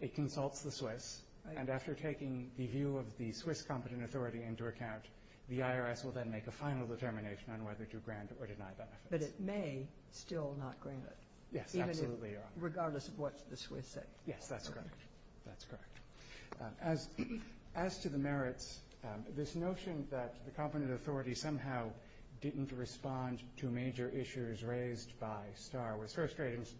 it consults the Swiss, and after taking the view of the Swiss competent authority into account, the IRS will then make a final determination on whether to grant or deny benefits. But it may still not grant it. Yes, absolutely, Your Honor. Regardless of what the Swiss say. Yes, that's correct. That's correct. As to the merits, this notion that the competent authority somehow didn't respond to major issues raised by STAR was first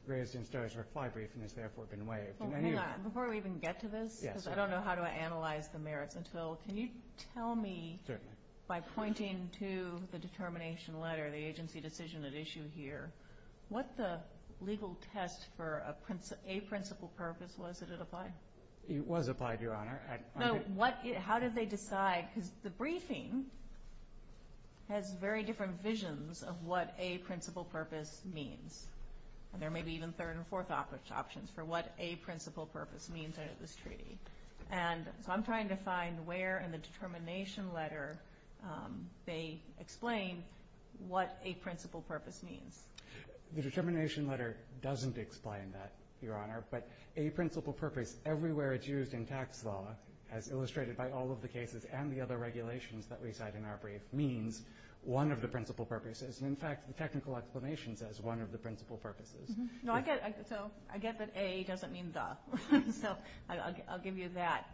raised in STAR's reply brief and has therefore been waived. Hang on. Before we even get to this, because I don't know how to analyze the merits until, can you tell me by pointing to the determination letter, the agency decision at issue here, what the legal test for a principle purpose was that it applied? It was applied, Your Honor. No, how did they decide? Because the briefing has very different visions of what a principle purpose means. There may be even third and fourth options for what a principle purpose means under this treaty. And so I'm trying to find where in the determination letter they explain what a principle purpose means. The determination letter doesn't explain that, Your Honor. But a principle purpose everywhere it's used in tax law, as illustrated by all of the cases and the other regulations that reside in our brief, means one of the principle purposes. And, in fact, the technical explanation says one of the principle purposes. So I get that a doesn't mean the. So I'll give you that.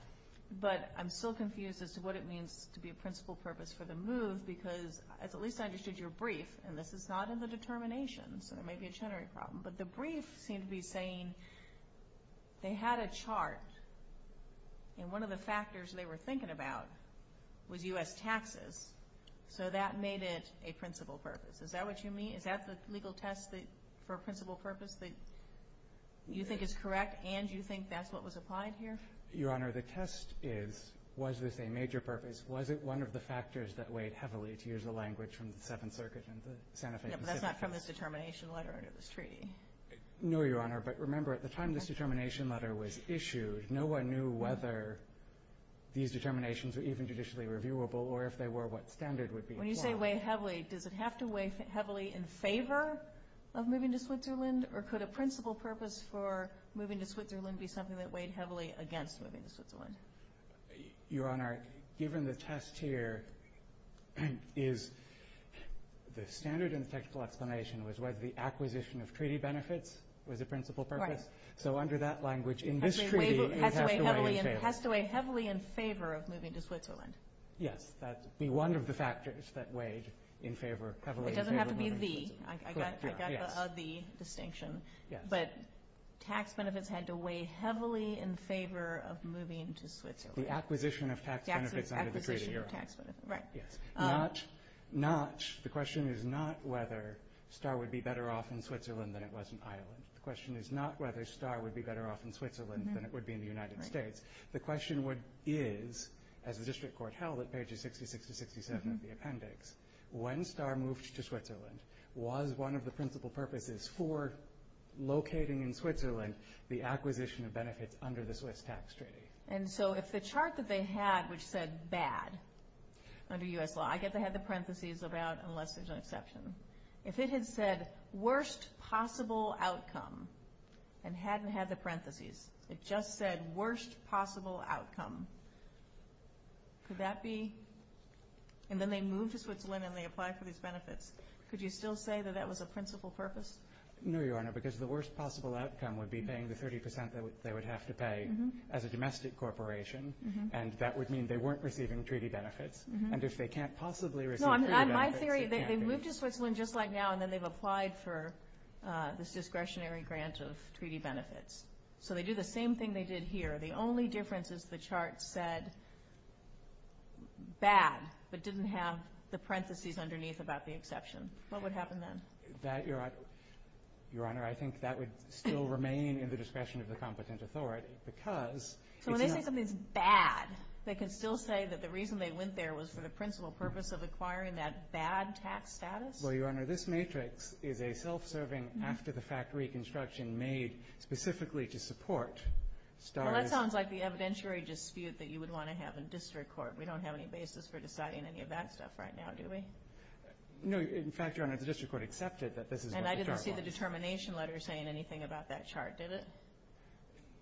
But I'm still confused as to what it means to be a principle purpose for the move because at least I understood your brief, and this is not in the determination, so there may be a generic problem. But the brief seemed to be saying they had a chart, and one of the factors they were thinking about was U.S. taxes. So that made it a principle purpose. Is that what you mean? Is that the legal test for a principle purpose that you think is correct and you think that's what was applied here? Your Honor, the test is, was this a major purpose? Was it one of the factors that weighed heavily, to use the language from the Seventh Circuit and the Santa Fe. No, but that's not from this determination letter. It was treaty. No, Your Honor. But remember, at the time this determination letter was issued, no one knew whether these determinations were even judicially reviewable or if they were what standard would be. When you say weighed heavily, does it have to weigh heavily in favor of moving to Switzerland? Or could a principle purpose for moving to Switzerland be something that weighed heavily against moving to Switzerland? Your Honor, given the test here is the standard and technical explanation was whether the acquisition of treaty benefits was a principle purpose. Right. So under that language, in this treaty, it has to weigh in favor. It has to weigh heavily in favor of moving to Switzerland. Yes, that would be one of the factors that weighed in favor, heavily in favor of moving to Switzerland. It doesn't have to be the. I got a the distinction. Yes. But tax benefits had to weigh heavily in favor of moving to Switzerland. The acquisition of tax benefits under the Treaty of Iran. Right. Yes. The question is not whether Star would be better off in Switzerland than it was in Ireland. The question is not whether Star would be better off in Switzerland than it would be in the United States. The question is, as the District Court held at pages 66 to 67 of the appendix, when Star moved to Switzerland, was one of the principle purposes for locating in Switzerland the acquisition of benefits under the Swiss tax treaty. And so if the chart that they had which said bad under U.S. law, I get they had the parentheses about unless there's an exception. If it had said worst possible outcome and hadn't had the parentheses, it just said worst possible outcome, could that be? And then they moved to Switzerland and they applied for these benefits. Could you still say that that was a principle purpose? No, Your Honor, because the worst possible outcome would be paying the 30% that they would have to pay as a domestic corporation, and that would mean they weren't receiving treaty benefits. And if they can't possibly receive treaty benefits, it can't be. No, in my theory, they moved to Switzerland just like now, and then they've applied for this discretionary grant of treaty benefits. So they do the same thing they did here. The only difference is the chart said bad but didn't have the parentheses underneath about the exception. What would happen then? Your Honor, I think that would still remain in the discretion of the competent authority. So when they say something's bad, they can still say that the reason they went there was for the principle purpose of acquiring that bad tax status? Well, Your Honor, this matrix is a self-serving, after-the-fact reconstruction made specifically to support STARS. Well, that sounds like the evidentiary dispute that you would want to have in district court. We don't have any basis for deciding any of that stuff right now, do we? No. In fact, Your Honor, the district court accepted that this is what the chart wants. And I didn't see the determination letter saying anything about that chart, did it?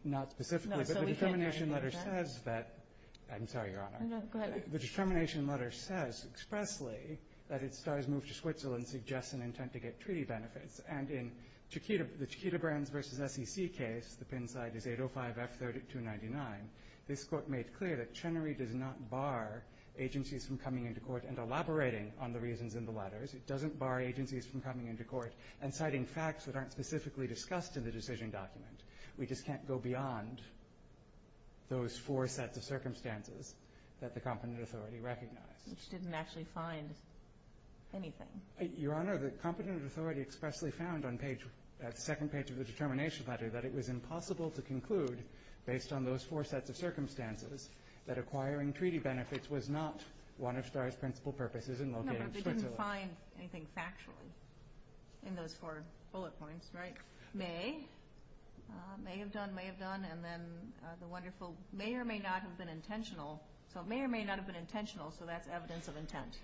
Not specifically, but the determination letter says that – I'm sorry, Your Honor. No, go ahead. The determination letter says expressly that STARS moved to Switzerland suggests an intent to get treaty benefits. And in the Chiquita Brands v. SEC case, the pin side is 805-F3299, this court made clear that Chenery does not bar agencies from coming into court and elaborating on the reasons in the letters. It doesn't bar agencies from coming into court and citing facts that aren't specifically discussed in the decision document. We just can't go beyond those four sets of circumstances that the competent authority recognized. Which didn't actually find anything. Your Honor, the competent authority expressly found on page – that second page of the determination letter that it was impossible to conclude, based on those four sets of circumstances, that acquiring treaty benefits was not one of STARS' principal purposes in locating Switzerland. No, but they didn't find anything factual in those four bullet points, right? May have done, may have done, and then the wonderful – may or may not have been intentional. So it may or may not have been intentional, so that's evidence of intent.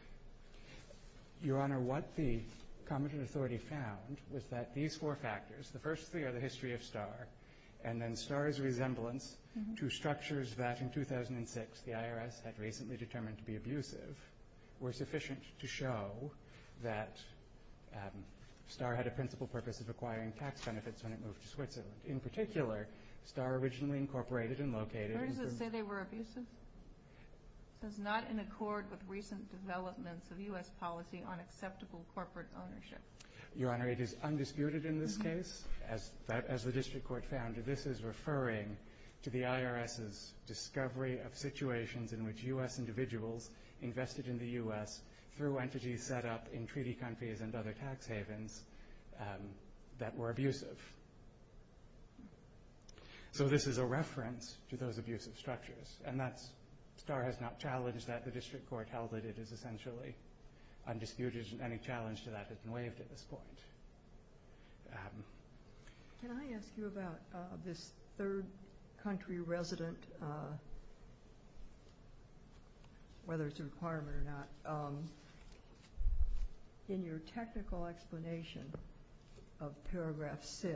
Your Honor, what the competent authority found was that these four factors – the first three are the history of STAR, and then STAR's resemblance to structures that, in 2006, the IRS had recently determined to be abusive, were sufficient to show that STAR had a principal purpose of acquiring tax benefits when it moved to Switzerland. In particular, STAR originally incorporated and located – Where does it say they were abusive? It says, not in accord with recent developments of U.S. policy on acceptable corporate ownership. Your Honor, it is undisputed in this case. As the district court found, this is referring to the IRS's discovery of situations in which U.S. individuals invested in the U.S. through entities set up in treaty countries and other tax havens that were abusive. So this is a reference to those abusive structures, and that's – STAR has not challenged that. The district court held that it is essentially undisputed, and there isn't any challenge to that that's been waived at this point. Can I ask you about this third country resident, whether it's a requirement or not? In your technical explanation of paragraph 6,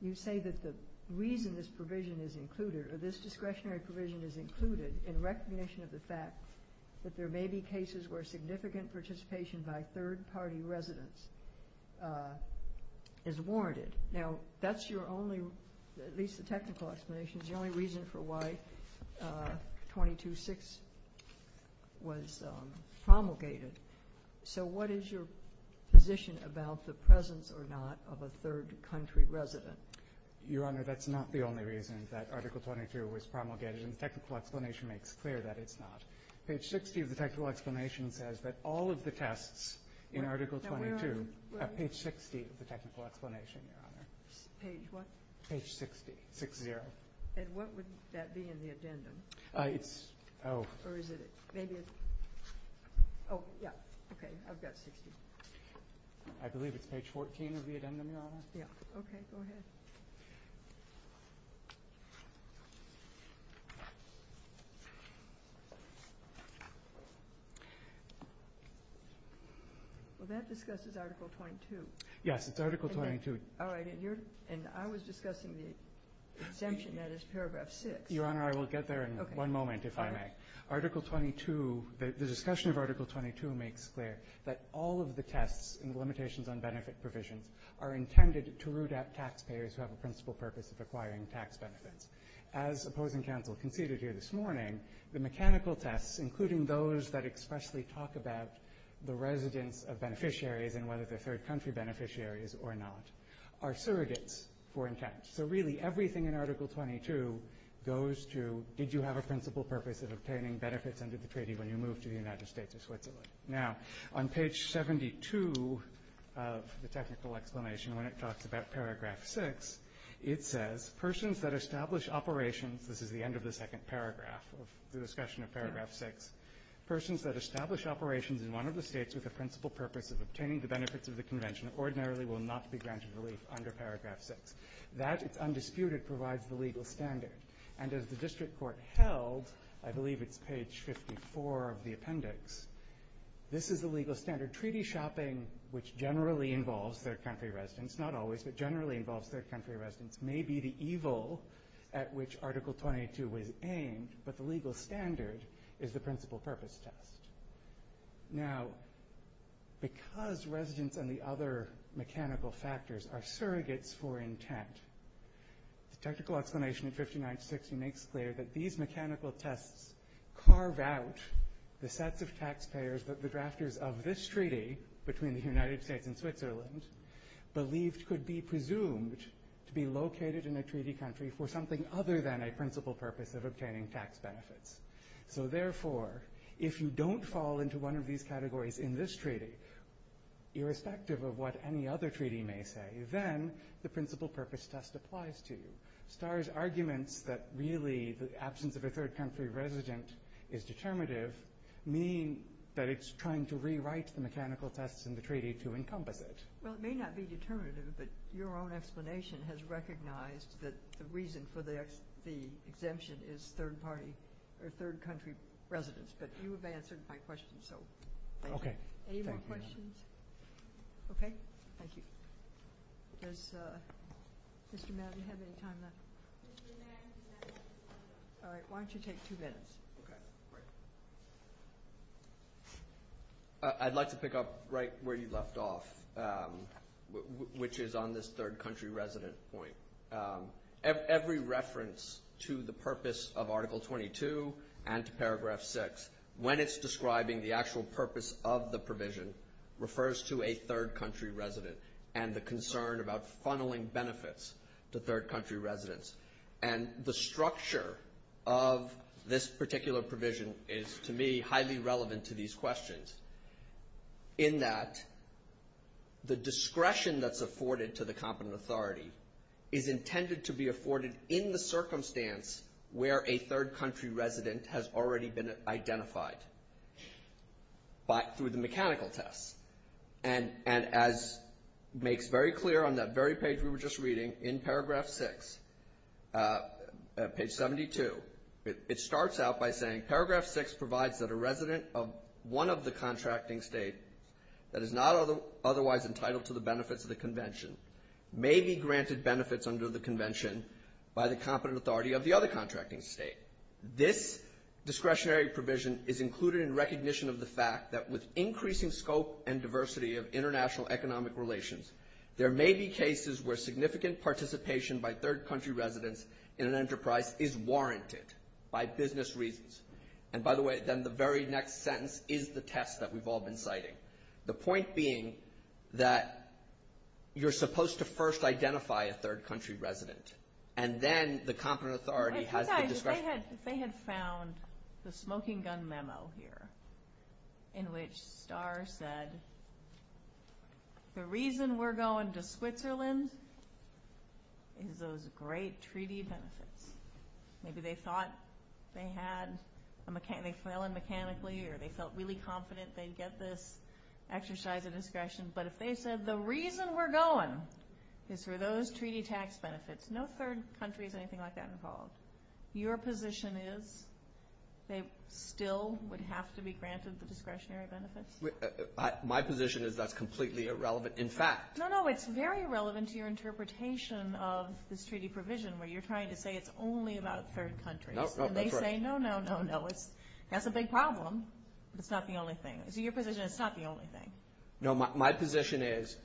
you say that the reason this provision is included, or this discretionary provision is included in recognition of the fact that there may be cases where significant participation by third-party residents is warranted. Now, that's your only – at least the technical explanation – is the only reason for why 22-6 was promulgated. So what is your position about the presence or not of a third country resident? Your Honor, that's not the only reason that Article 22 was promulgated, and the technical explanation makes clear that it's not. Page 60 of the technical explanation says that all of the tests in Article 22 – Now, where are – Page 60 of the technical explanation, Your Honor. Page what? Page 60. 6-0. And what would that be in the addendum? It's – oh. Or is it – maybe it's – oh, yeah. Okay. I've got 60. I believe it's page 14 of the addendum, Your Honor. Yeah. Okay. Go ahead. Well, that discusses Article 22. Yes, it's Article 22. All right. And you're – and I was discussing the exemption that is paragraph 6. Your Honor, I will get there in one moment, if I may. Okay. All right. Article 22 – the discussion of Article 22 makes clear that all of the tests and the limitations on benefit provisions are intended to root out taxpayers who have a principal purpose of acquiring tax benefits. As opposing counsel conceded here this morning, the mechanical tests, including those that expressly talk about the residence of beneficiaries and whether they're third-country beneficiaries or not, are surrogates for intent. So, really, everything in Article 22 goes to, did you have a principal purpose of obtaining benefits under the treaty when you moved to the United States or Switzerland? Now, on page 72 of the technical explanation, when it talks about paragraph 6, it says persons that establish operations – this is the end of the second paragraph of the discussion of paragraph 6 – persons that establish operations in one of the states with a principal purpose of obtaining the benefits of the Convention ordinarily will not be granted relief under paragraph 6. That, it's undisputed, provides the legal standard. And as the district court held, I believe it's page 54 of the appendix, this is the legal standard. Treaty shopping, which generally involves third-country residents – not always, but generally involves third-country residents – may be the evil at which Article 22 was aimed, but the legal standard is the principal purpose test. Now, because residence and the other mechanical factors are surrogates for intent, the technical explanation in 59-60 makes clear that these mechanical tests carve out the sets of taxpayers that the drafters of this treaty, between the United States and Switzerland, believed could be presumed to be located in a treaty country for something other than a principal purpose of obtaining tax benefits. So therefore, if you don't fall into one of these categories in this treaty, irrespective of what any other treaty may say, then the principal purpose test applies to you. Starr's arguments that really the absence of a third-country resident is determinative mean that it's trying to rewrite the mechanical tests in the treaty to encompass it. Well, it may not be determinative, but your own explanation has recognized that the reason for the exemption is third-country residents, but you have answered my question, so thank you. Okay. Thank you. Any more questions? Okay. Thank you. Does Mr. Madden have any time left? Mr. Madden, do you have any time left? All right. Why don't you take two minutes? Okay. Great. I'd like to pick up right where you left off, which is on this third-country resident point. Every reference to the purpose of Article 22 and to Paragraph 6, when it's describing the actual purpose of the provision, refers to a third-country resident and the concern about funneling benefits to third-country residents. And the structure of this particular provision is, to me, highly relevant to these questions in that the discretion that's afforded to the competent authority is intended to be afforded in the circumstance where a third-country resident has already been identified through the mechanical tests. And as makes very clear on that very page we were just reading, in Paragraph 6, page 72, it starts out by saying, Paragraph 6 provides that a resident of one of the contracting state that is not otherwise entitled to the benefits of the convention may be granted benefits under the convention by the competent authority of the other contracting state. This discretionary provision is included in recognition of the fact that with increasing scope and diversity of international economic relations, there may be cases where significant participation by third-country residents in an enterprise is warranted by business reasons. And by the way, then the very next sentence is the test that we've all been citing. The point being that you're supposed to first identify a third-country resident, and then the competent authority has the discretion. If they had found the Smoking Gun Memo here, in which Starr said, the reason we're going to Switzerland is those great treaty benefits. Maybe they thought they had a mechanic, they fell in mechanically, or they felt really confident they'd get this exercise of discretion, but if they said the reason we're going is for those treaty tax benefits, no third country is anything like that involved. Your position is they still would have to be granted the discretionary benefits? My position is that's completely irrelevant, in fact. No, no, it's very relevant to your interpretation of this treaty provision, where you're trying to say it's only about third countries. No, no, that's right. And they say, no, no, no, no, that's a big problem. It's not the only thing. So your position is it's not the only thing. No, my position is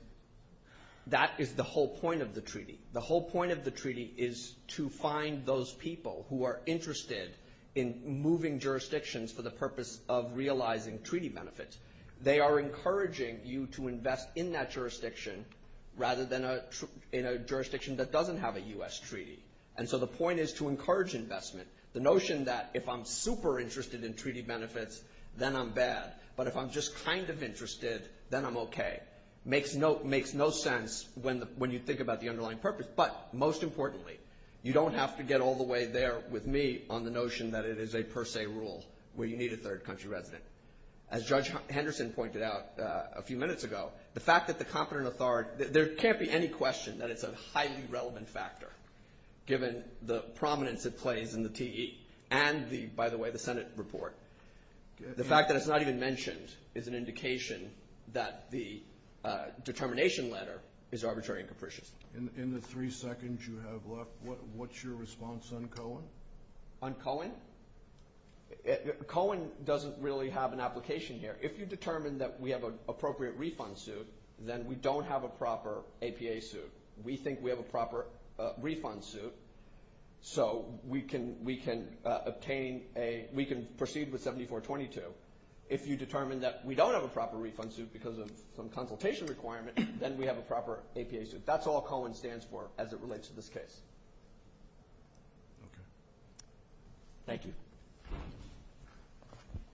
that is the whole point of the treaty. The whole point of the treaty is to find those people who are interested in moving jurisdictions for the purpose of realizing treaty benefits. They are encouraging you to invest in that jurisdiction, rather than in a jurisdiction that doesn't have a U.S. treaty. And so the point is to encourage investment. The notion that if I'm super interested in treaty benefits, then I'm bad, but if I'm just kind of interested, then I'm okay, makes no sense when you think about the underlying purpose. But most importantly, you don't have to get all the way there with me on the notion that it is a per se rule where you need a third country resident. As Judge Henderson pointed out a few minutes ago, the fact that the competent authority, there can't be any question that it's a highly relevant factor, given the prominence it plays in the TE and, by the way, the Senate report. The fact that it's not even mentioned is an indication that the determination letter is arbitrary and capricious. In the three seconds you have left, what's your response on Cohen? On Cohen? Cohen doesn't really have an application here. If you determine that we have an appropriate refund suit, then we don't have a proper APA suit. We think we have a proper refund suit, so we can proceed with 7422. If you determine that we don't have a proper refund suit because of some consultation requirement, then we have a proper APA suit. That's all Cohen stands for as it relates to this case. Okay. Thank you.